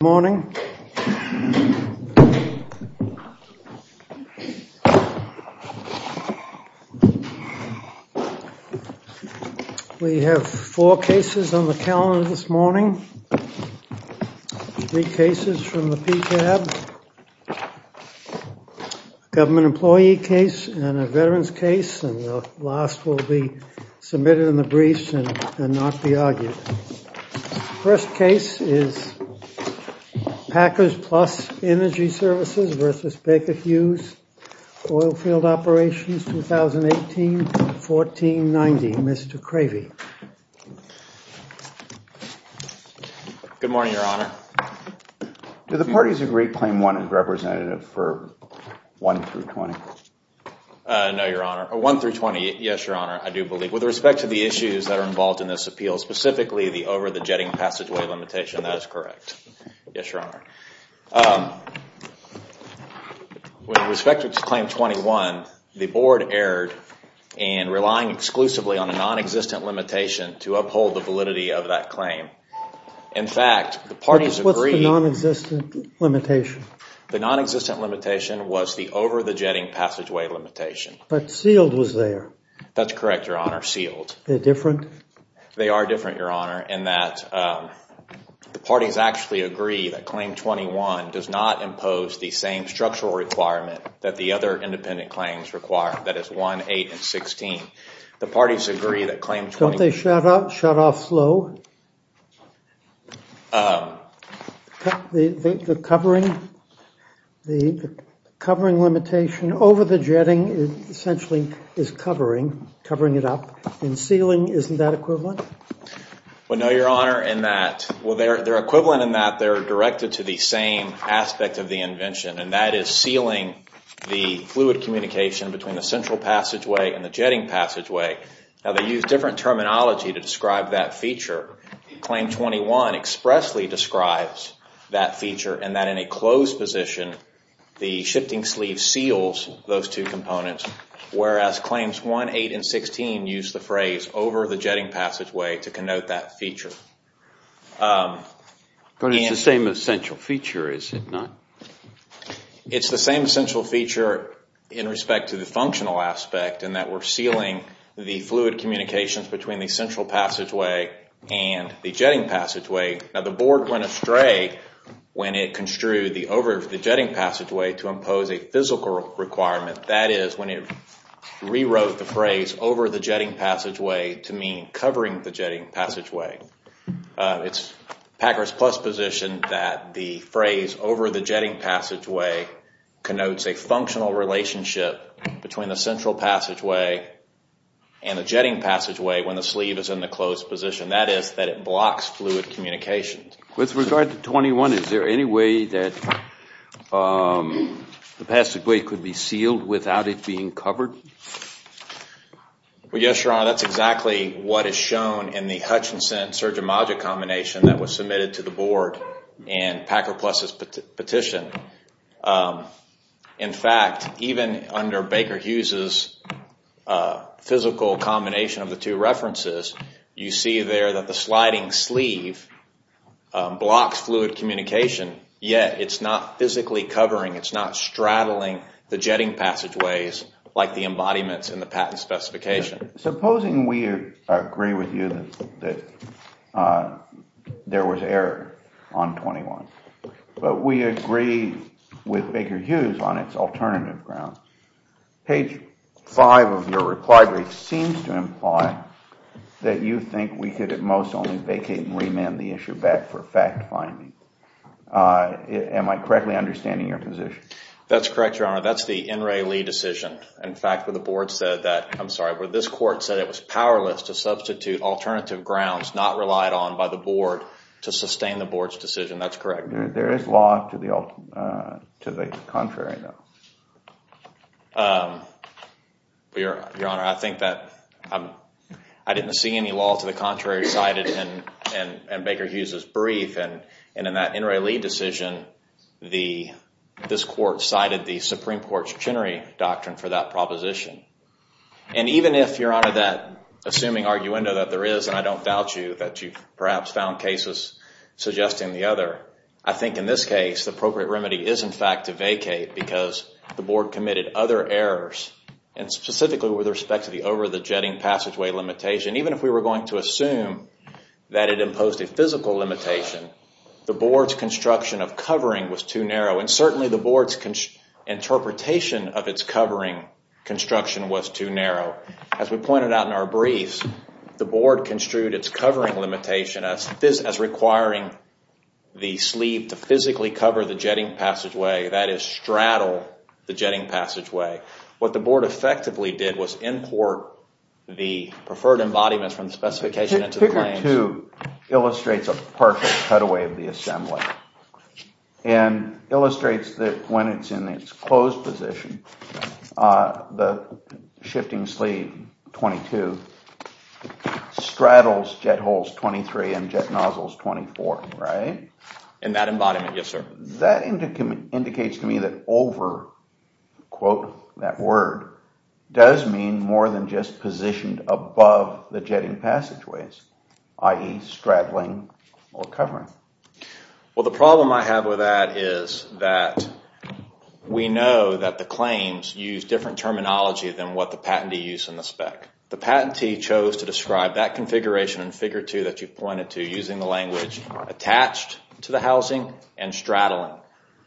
morning. We have four cases on the calendar this morning. Three cases from the PCAB. Government employee case and a veteran's case and the last will be submitted in the briefs and not be argued. First case is Packers Plus Energy Services v. Baker Hughes Oilfield Operations 2018-1490. Mr. Cravey. Good morning, Your Honor. Do the parties agree Claim 1 is representative for 1-20? No, Your Honor. 1-20, yes, Your Honor, I do believe. With respect to the issues that are involved in this appeal, specifically the over the jetting passageway limitation, that is correct. Yes, Your Honor. With respect to Claim 21, the Board erred in relying exclusively on a non-existent limitation to uphold the validity of that claim. In fact, the parties agree. What's the non-existent limitation? The non-existent limitation was the over the jetting passageway limitation. But sealed was there. That's correct, Your Honor, sealed. They're different? They are different, Your Honor, in that the parties actually agree that Claim 21 does not impose the same structural requirement that the other independent claims require, that is 1, 8, and 16. The parties agree that Claim 21... Don't they shut off slow? The covering limitation over the jetting essentially is covering it up and sealing, isn't that equivalent? No, Your Honor, in that... Well, they're equivalent in that they're directed to the same aspect of the invention, and that is sealing the fluid communication between the central passageway and the jetting passageway. Now, they use different terminology to describe that feature. Claim 21 expressly describes that feature and that in a closed position, the shifting sleeve seals those two components, whereas Claims 1, 8, and 16 use the phrase over the jetting passageway to connote that feature. But it's the same essential feature, is it not? It's the same essential feature in respect to the functional aspect, in that we're sealing the fluid communications between the central passageway and the jetting passageway. Now, the Board went astray when it construed the over the jetting passageway to impose a physical requirement, that is, when it rewrote the phrase over the jetting passageway to mean covering the jetting passageway. It's Packer's plus position that the phrase over the jetting passageway connotes a functional relationship between the central passageway and the jetting passageway when the sleeve is in the closed position, that is, that it blocks fluid communications. With regard to 21, is there any way that the passageway could be sealed without it being covered? Well, yes, Your Honor, that's exactly what is shown in the Hutchinson-Sergio Maggio combination that was submitted to the Board in Packer Plus's petition. In fact, even under Baker Hughes's physical combination of the two references, you see there that the sliding sleeve blocks fluid communication, yet it's not physically covering, it's not straddling the jetting passageways like the embodiments in the patent specification. Supposing we agree with you that there was error on 21, but we agree with Baker Hughes on its alternative grounds. Page 5 of your reply brief seems to imply that you think we could at most vacate and remand the issue back for fact-finding. Am I correctly understanding your position? That's correct, Your Honor. That's the N. Ray Lee decision, in fact, where the Board said that, I'm sorry, where this Court said it was powerless to substitute alternative grounds not relied on by the Board to sustain the Board's decision. That's correct. There is law to the contrary, though. Your Honor, I think that I didn't see any law to the contrary cited in Baker Hughes's brief. In that N. Ray Lee decision, this Court cited the Supreme Court's Chenery Doctrine for that proposition. Even if, Your Honor, that assuming arguendo that there is, and I don't doubt you that you've perhaps found cases suggesting the other, I think in this case the appropriate remedy is, in fact, to vacate because the Board committed other errors, and specifically with respect to the over-the-jetting passageway limitation, even if we were going to assume that it imposed a physical limitation, the Board's construction of covering was too narrow, and certainly the Board's interpretation of its covering construction was too narrow. As we pointed out in our briefs, the Board construed its covering limitation as requiring the sleeve to physically cover the jetting passageway, that is straddle the jetting passageway. What the Board effectively did was import the preferred embodiment from the specification into the claims. Figure 2 illustrates a partial cutaway of the assembly and illustrates that when it's in its closed position, the shifting sleeve 22 straddles jet holes 23 and jet nozzles 24, right? In that embodiment, yes, sir. That indicates to me that over, quote that word, does mean more than just positioned above the jetting passageways, i.e. straddling or covering. Well, the problem I have with that is that we know that the claims use different terminology than what the patentee used in the spec. The patentee chose to describe that configuration in Figure 2 that you pointed to, using the language attached to the housing and straddling.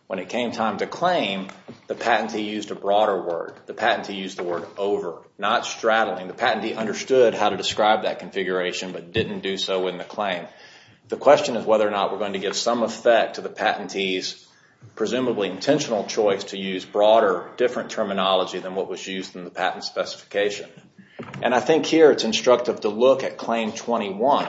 When it came time to claim, the patentee used a broader word. The patentee used the word over, not straddling. The patentee understood how to describe that configuration but didn't do so in the claim. The question is whether or not we're going to give some effect to the patentee's presumably intentional choice to use broader, different terminology than what 21.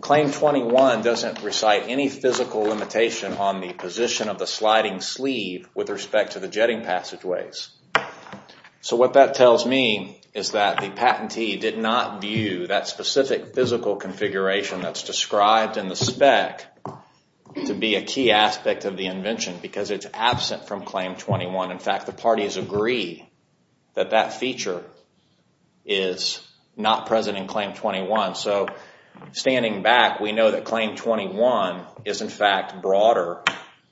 Claim 21 doesn't recite any physical limitation on the position of the sliding sleeve with respect to the jetting passageways. What that tells me is that the patentee did not view that specific physical configuration that's described in the spec to be a key aspect of the invention because it's absent from Claim 21. In fact, the parties agree that that feature is not present in Claim 21. Standing back, we know that Claim 21 is in fact broader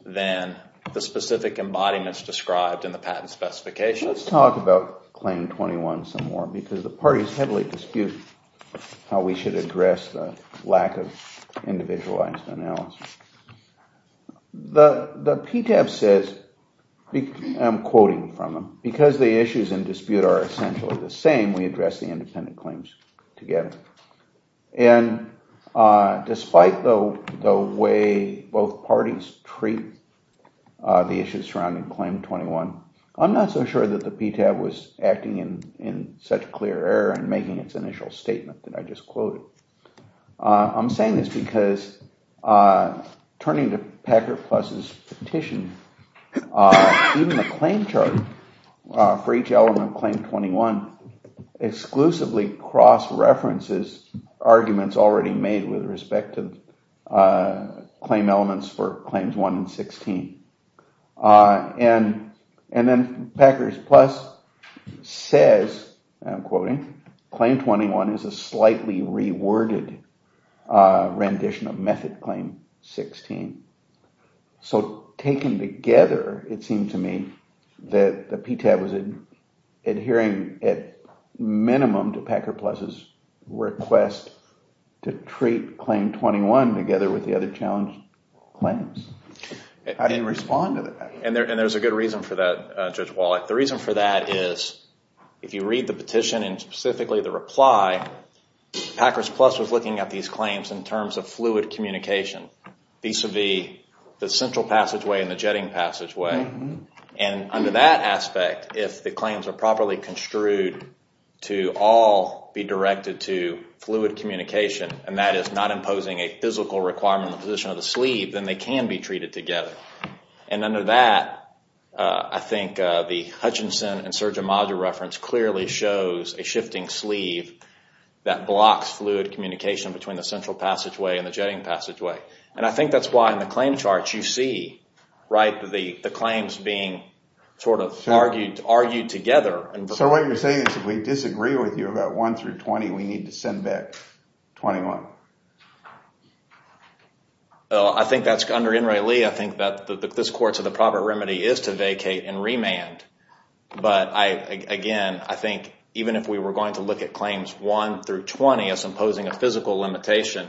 than the specific embodiments described in the patent specification. Let's talk about Claim 21 some more because the parties heavily dispute how we should address the lack of individualized analysis. The PTAB says, I'm quoting from them, because the issues in dispute are essentially the same, we address the independent claims together. Despite the way both parties treat the issues surrounding Claim 21, I'm not so sure that the PTAB was acting in such clear and making its initial statement that I just quoted. I'm saying this because turning to Packer Plus's petition, even the claim chart for each element of Claim 21 exclusively cross references arguments already made with respect to claim elements for Claims 1 and 16. And then Packer Plus says, I'm quoting, Claim 21 is a slightly reworded rendition of Method Claim 16. So taken together, it seemed to me that the PTAB was adhering at minimum to Packer Plus's request to treat Claim 21 together with the other challenge claims. I didn't respond to that. And there's a good reason for that, Judge Wallach. The reason for that is if you read the petition and specifically the reply, Packer Plus was looking at these claims in terms of fluid communication vis-a-vis the central passageway and the jetting passageway. And under that aspect, if the claims are properly construed to all be directed to fluid communication, and that is not imposing a physical requirement on the position of the sleeve, then they can be treated together. And under that, I think the Hutchinson and Sergio Maggio reference clearly shows a shifting sleeve that blocks fluid communication between the central passageway and the jetting passageway. And I think that's why in the claim charts you see the claims being argued together. So what you're saying is if we disagree with you about 1 through 20, we need to send back 21? I think that's under N. Ray Lee. I think that this Court's proper remedy is to vacate and remand. But again, I think even if we were going to look at Claims 1 through 20 as imposing a physical limitation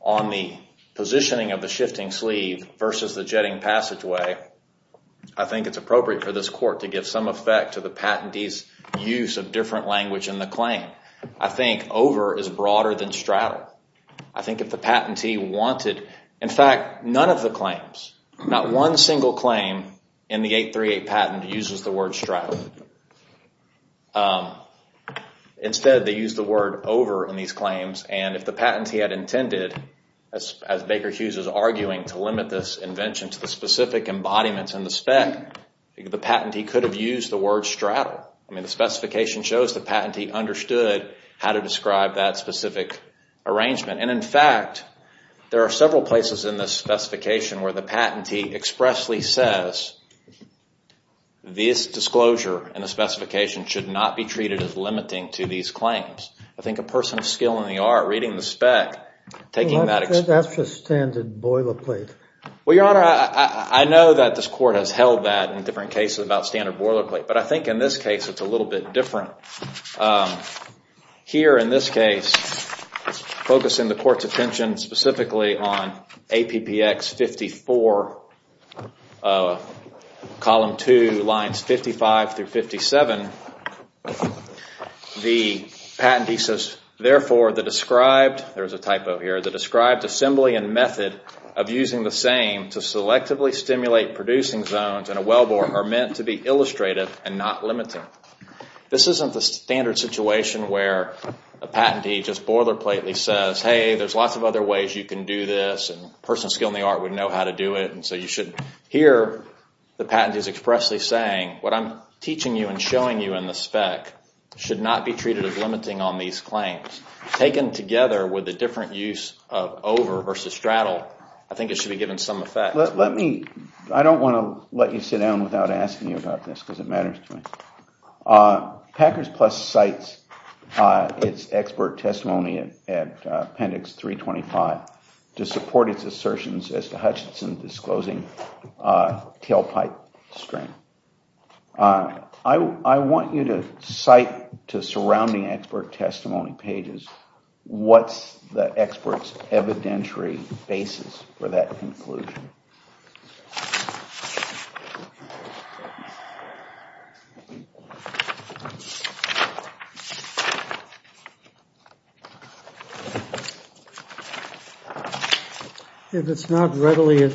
on the positioning of the shifting sleeve versus the jetting passageway, I think it's appropriate for this Court to give some effect to the patentee's use of different language in the claim. I think over is broader than straddle. I think if the patentee wanted, in fact, none of the claims, not one single claim in the 838 patent uses the word straddle. Instead, they use the word over in these claims. And if the patentee had intended, as Baker Hughes is arguing, to limit this invention to the specific embodiments in the spec, the patentee could have used the word straddle. I mean, the specification shows the patentee understood how to describe that specific arrangement. And in fact, there are several places in this specification where the patentee expressly says this disclosure in the specification should not be treated as limiting to these claims. I think a person of skill in the art, reading the spec, taking that... That's just standard boilerplate. Well, Your Honor, I know that this Court has held that in different cases about standard boilerplate. But I think in this case, it's a little bit different. Here in this case, focusing the Court's attention specifically on APPX 54, column 2, lines 55 through 57, the patentee says, therefore, the described... There's a typo here. The described assembly and the same to selectively stimulate producing zones in a wellbore are meant to be illustrative and not limiting. This isn't the standard situation where a patentee just boilerplately says, hey, there's lots of other ways you can do this. And a person of skill in the art would know how to do it. And so you should hear the patentee's expressly saying, what I'm teaching you and showing you in the spec should not be treated as limiting on these claims. Taken together with different use of over versus straddle, I think it should be given some effect. I don't want to let you sit down without asking you about this because it matters to me. Packers Plus cites its expert testimony at Appendix 325 to support its assertions as to Hutchinson disclosing tailpipe strain. I want you to cite to surrounding expert testimony pages what's the expert's evidentiary basis for that conclusion. If it's not readily at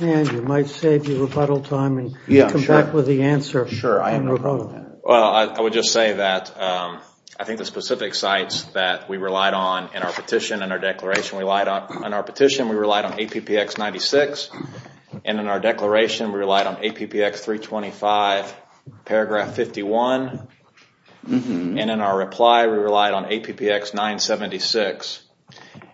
hand, you might save your rebuttal time and come back with the answer. I would just say that I think the specific sites that we relied on in our petition, in our declaration, we relied on APPX 96. And in our declaration, we relied on APPX 325, paragraph 51. And in our reply, we relied on APPX 976.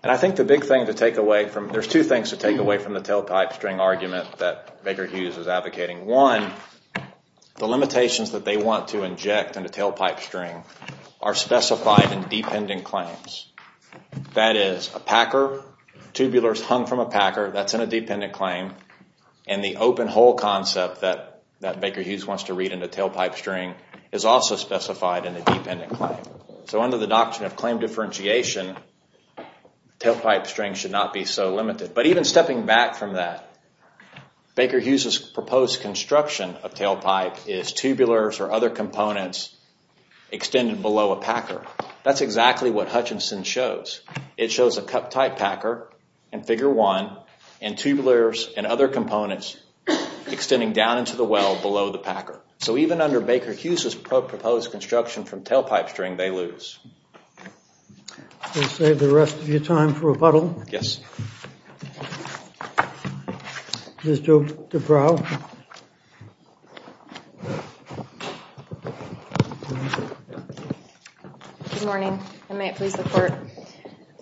And I think the big thing to take away from, there's two things to take away from the tailpipe string argument that Baker Hughes is that they want to inject in the tailpipe string are specified in dependent claims. That is, a packer, tubulars hung from a packer, that's in a dependent claim. And the open hole concept that Baker Hughes wants to read in the tailpipe string is also specified in the dependent claim. So under the doctrine of claim differentiation, tailpipe string should not be so limited. But even stepping back from that, Baker Hughes' proposed construction of tailpipe is tubulars or other components extended below a packer. That's exactly what Hutchinson shows. It shows a cup type packer in figure one, and tubulars and other components extending down into the well below the packer. So even under Baker Hughes' proposed construction from tailpipe string, they lose. We'll save the rest of your time for rebuttal. Yes. Ms. Dubrow. Good morning, and may it please the court.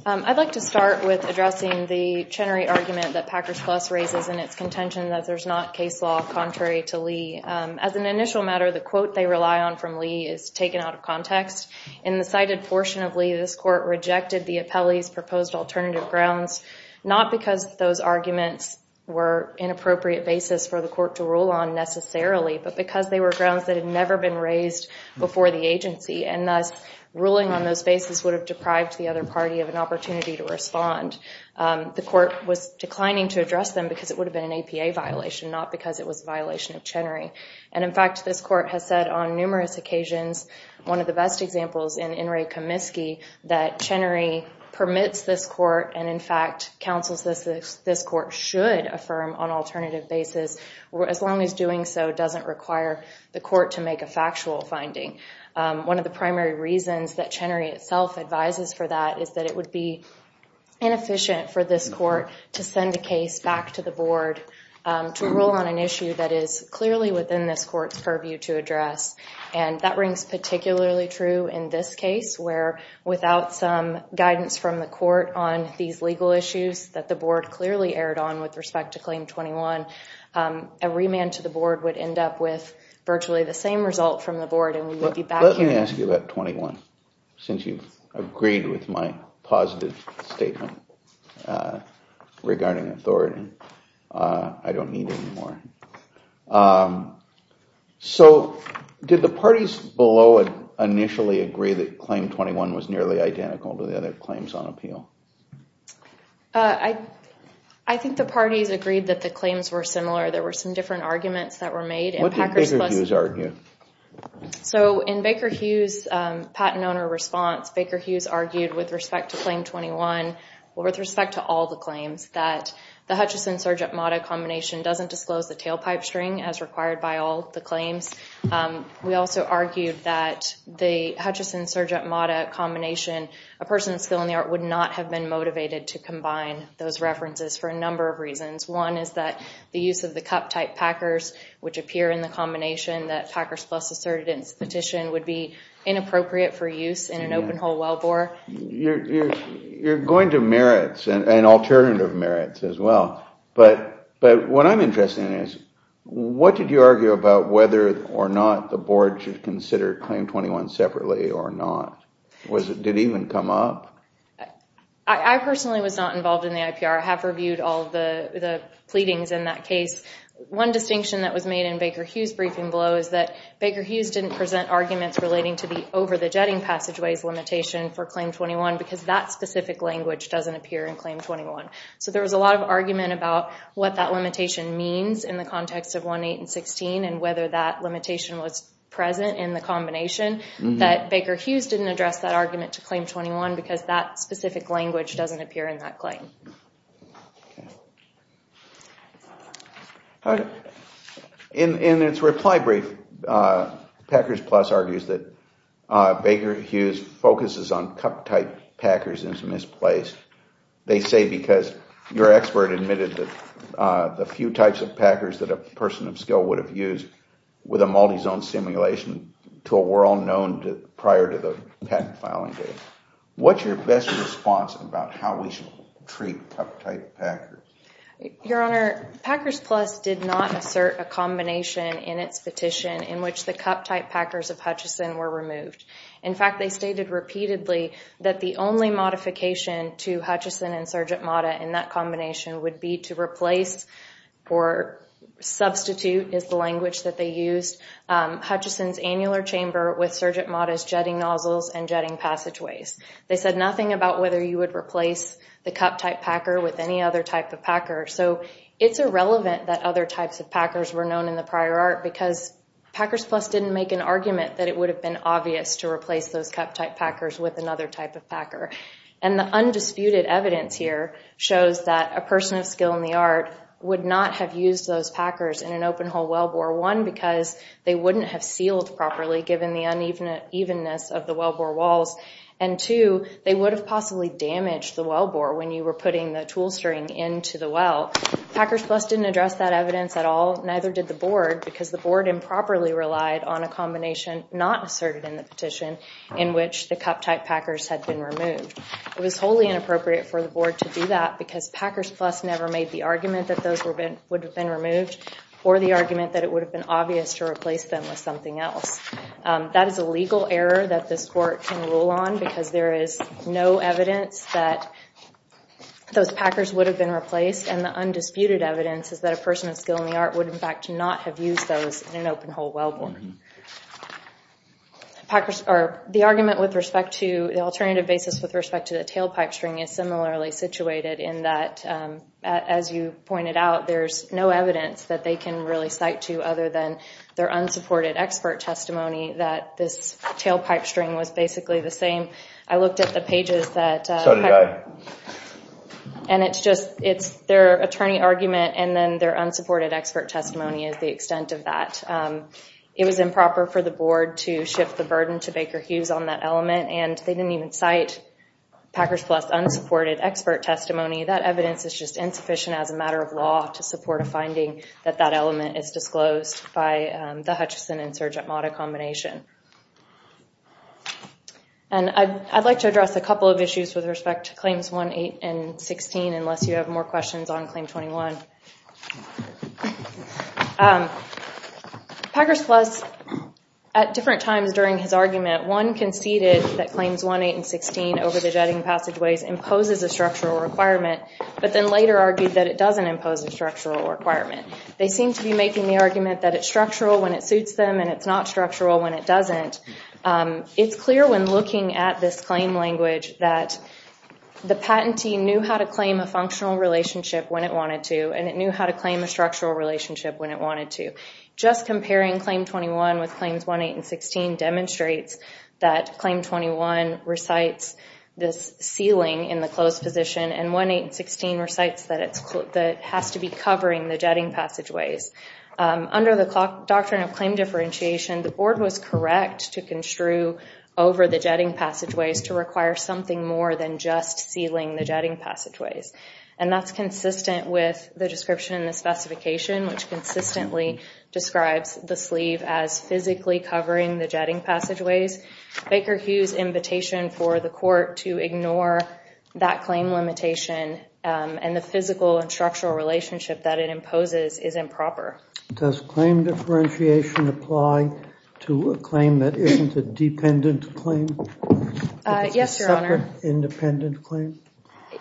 I'd like to start with addressing the Chenery argument that Packers Plus raises in its contention that there's not case law contrary to Lee. As an initial matter, the quote they rely on from Lee is taken out of context. In the cited portion of Lee, this court rejected the appellee's proposed alternative grounds, not because those arguments were inappropriate basis for the court to rule on necessarily, but because they were grounds that had never been raised before the agency, and thus ruling on those bases would have deprived the other party of an opportunity to respond. The court was declining to address them because it would have been an APA violation, not because it was a And in fact, this court has said on numerous occasions, one of the best examples in In re Comiskey, that Chenery permits this court, and in fact, counsels this court should affirm on alternative basis, as long as doing so doesn't require the court to make a factual finding. One of the primary reasons that Chenery itself advises for that is that it would be inefficient for this court to send a case back to the board to rule on an issue that is clearly within this court's purview to address. And that rings particularly true in this case, where without some guidance from the court on these legal issues that the board clearly erred on with respect to Claim 21, a remand to the board would end up with virtually the same result from the board and we would be back here. Let me ask you about 21, since you've agreed with my positive statement regarding authority. I don't need it anymore. So did the parties below initially agree that Claim 21 was nearly identical to the other claims on appeal? I think the parties agreed that the claims were similar. There were some different arguments that were made. What did Baker Hughes argue? So in Baker Hughes' patent owner response, Baker Hughes argued with respect to Claim 21, with respect to all the claims, that the Hutchison-Sergeant-Mata combination doesn't disclose the tailpipe string as required by all the claims. We also argued that the Hutchison-Sergeant-Mata combination, a person with skill in the art, would not have been motivated to combine those references for a number of reasons. One is that the use of the cup-type Packers, which appear in the combination that Packers Plus asserted in its petition, would be inappropriate for use in an open-hole wellbore. You're going to merits and alternative merits as well, but what I'm interested in is, what did you argue about whether or not the Board should consider Claim 21 separately or not? Did it even come up? I personally was not involved in the IPR. I have reviewed all the pleadings in that case. One distinction that was made in Baker Hughes' briefing below is that Baker Hughes didn't present arguments relating to the over-the-jetting passageways limitation for Claim 21 because that specific language doesn't appear in Claim 21. So there was a lot of argument about what that limitation means in the context of 1.8 and 16 and whether that limitation was present in the combination, that Baker Hughes didn't address that argument to Claim 21 because that specific language doesn't appear in that claim. In its reply brief, Packers Plus argues that Baker Hughes focuses on cup-type packers as misplaced. They say because your expert admitted that the few types of packers that a person of skill would have used with a multi-zone simulation tool were all known prior to the patent filing date. What's your best response about how we should treat cup-type packers? Your Honor, Packers Plus did not assert a combination in in which the cup-type packers of Hutchison were removed. In fact, they stated repeatedly that the only modification to Hutchison and Sgt. Mata in that combination would be to replace or substitute is the language that they used Hutchison's annular chamber with Sgt. Mata's jetting nozzles and jetting passageways. They said nothing about whether you would replace the cup-type packer with any other type of packer. So it's irrelevant that other types of packers were known in the Packers Plus didn't make an argument that it would have been obvious to replace those cup-type packers with another type of packer. And the undisputed evidence here shows that a person of skill in the art would not have used those packers in an open-hole wellbore, one, because they wouldn't have sealed properly given the unevenness of the wellbore walls, and two, they would have possibly damaged the wellbore when you were putting the tool string into the well. Packers Plus didn't address that evidence at all, neither did the board, because the board improperly relied on a combination not asserted in the petition in which the cup-type packers had been removed. It was wholly inappropriate for the board to do that because Packers Plus never made the argument that those would have been removed or the argument that it would have been obvious to replace them with something else. That is a legal error that this court can rule on because there is no evidence that those packers would have been replaced, and the undisputed evidence is that a person of skill in the art would in fact not have used those in an open-hole wellbore. The argument with respect to the alternative basis with respect to the tailpipe string is similarly situated in that, as you pointed out, there's no evidence that they can really cite to other than their unsupported expert testimony that this tailpipe string was basically the same. I looked at the pages that and it's just it's their attorney argument and then their unsupported expert testimony is the extent of that. It was improper for the board to shift the burden to Baker Hughes on that element and they didn't even cite Packers Plus unsupported expert testimony. That evidence is just insufficient as a matter of law to support a finding that that element is disclosed by the Hutchison and Surgeant Mata combination. And I'd like to address a couple of issues with respect to Claims 1, 8, and 16 unless you have more questions on Claim 21. Packers Plus, at different times during his argument, one conceded that Claims 1, 8, and 16 over the jetting passageways imposes a structural requirement, but then later argued that it doesn't impose a structural requirement. They seem to be making the argument that it's structural when it suits them and it's not structural when it doesn't. It's clear when looking at this claim language that the patentee knew how to claim a functional relationship when it wanted to and it knew how to claim a structural relationship when it wanted to. Just comparing Claim 21 with Claims 1, 8, and 16 demonstrates that Claim 21 recites this sealing in the closed position and 1, 8, and 16 recites that it has to be covering the jetting passageways. Under the Doctrine of Claim Differentiation, the Board was correct to construe over the jetting passageways to require something more than just sealing the jetting passageways. And that's consistent with the description in the specification, which consistently describes the sleeve as physically covering the jetting passageways. Baker Hughes' invitation for the court to ignore that claim limitation and the physical and structural relationship that it imposes is improper. Does claim differentiation apply to a claim that isn't a dependent claim? Yes, Your Honor. Independent claim?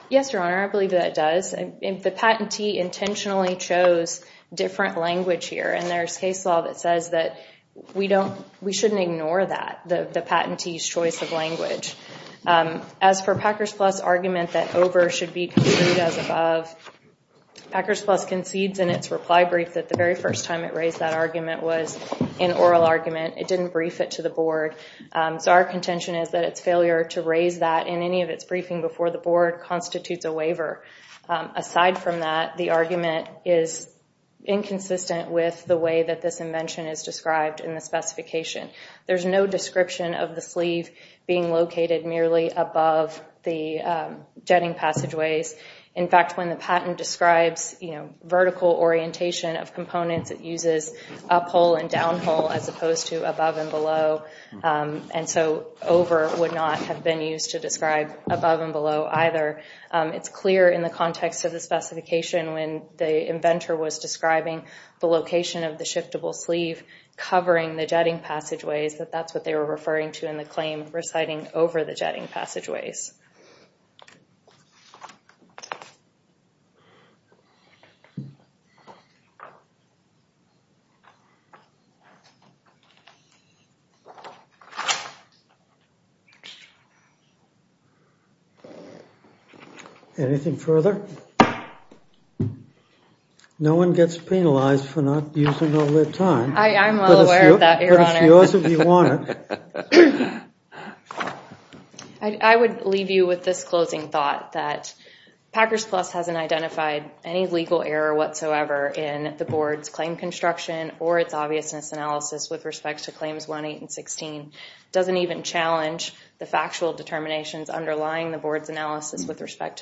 Yes, Your Honor. I believe that it does. The patentee intentionally chose different language here and there's case law that says that we shouldn't ignore that, the patentee's choice of language. As for Packers Plus' argument that over should be concluded as above, Packers Plus concedes in its reply brief that the very first time it raised that argument was an oral argument. It didn't brief it to the Board. So our contention is that its failure to raise that in any of its briefing before the Board constitutes a waiver. Aside from that, the argument is inconsistent with the way that this invention is described in the specification. There's no description of the sleeve being located merely above the jetting passageways. In fact, when the patent describes vertical orientation of components, it uses uphole and downhole as opposed to above and below. And so over would not have been used to describe above and below either. It's clear in the context of the specification when the inventor was describing the location of the shiftable sleeve covering the jetting passageways that that's what they were referring to in the claim reciting over the jetting passageways. Anything further? No one gets penalized for not using all their time. I'm well aware of that, your honor. I would leave you with this closing thought that Packers Plus hasn't identified any legal error whatsoever in the Board's claim construction or its obviousness analysis with respects to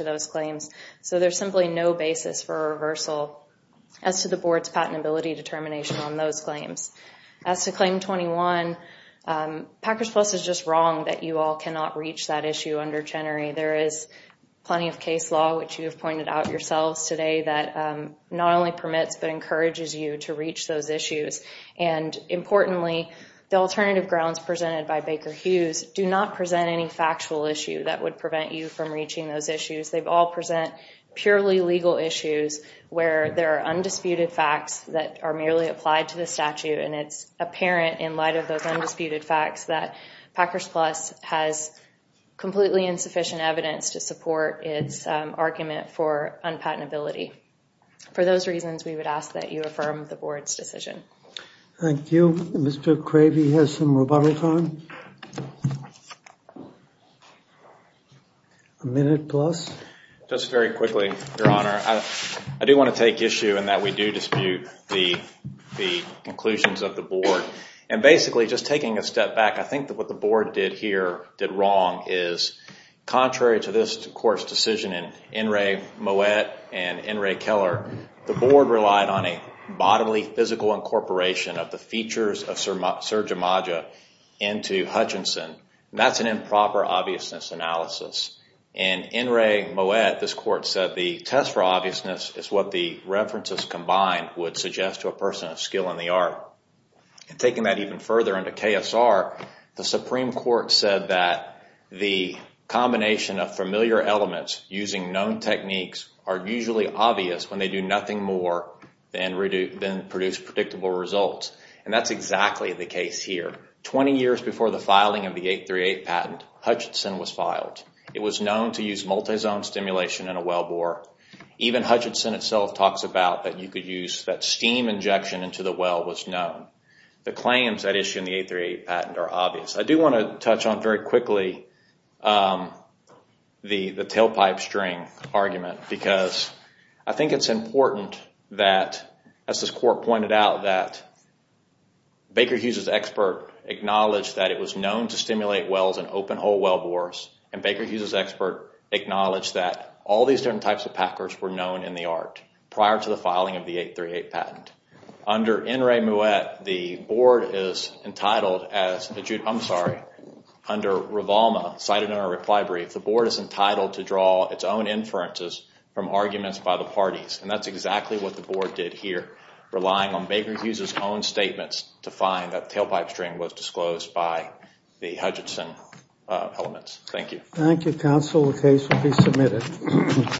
those claims. So there's simply no basis for a reversal as to the Board's patentability determination on those claims. As to Claim 21, Packers Plus is just wrong that you all cannot reach that issue under Chenery. There is plenty of case law, which you have pointed out yourselves today, that not only permits but encourages you to reach those issues. And importantly, the alternative grounds presented by Baker Hughes do not present any factual issue that would prevent you from reaching those issues. They all present purely legal issues where there are undisputed facts that are merely applied to the statute. And it's apparent in light of those undisputed facts that Packers Plus has completely insufficient evidence to support its argument for unpatentability. For those reasons, we would ask that you affirm the Board's decision. Thank you. Mr. Cravey has some rebuttals on. A minute plus. Just very quickly, Your Honor. I do want to take issue in that we do dispute the conclusions of the Board. And basically, just taking a step back, I think that what the Board did here, did wrong, is contrary to this Court's decision in Enri Moet and Enri Keller, the Board relied on a bodily physical incorporation of the features of Sir Jamaja into Hutchinson. That's an improper obviousness analysis. In Enri Moet, this Court said the test for obviousness is what the references combined would suggest to a person of skill in the art. Taking that even further into KSR, the Supreme Court said that the combination of familiar elements using known techniques are usually obvious when they do nothing more than produce predictable results. And that's exactly the case here. Twenty years before the filing of the 838 patent, Hutchinson was filed. It was known to use multi-zone stimulation in a wellbore. Even Hutchinson itself talks about that steam injection into the well was known. The claims that issue in the 838 patent are obvious. I do want to touch on very quickly the tailpipe string argument because I think it's important that, as this Court pointed out, that Baker Hughes's expert acknowledged that it was known to stimulate wells in open-hole wellbores, and Baker Hughes's expert acknowledged that all these different types of packers were known in the art prior to the filing of the 838 patent. Under Enri Moet, the Board is entitled as, I'm sorry, under Rivalma, cited in our reply brief, the Board is entitled to draw its own inferences from arguments by the parties. And that's exactly what the Board did here, relying on Baker Hughes's own statements to find that tailpipe string was disclosed by the Hutchinson elements. Thank you. Thank you, counsel. The case will be submitted.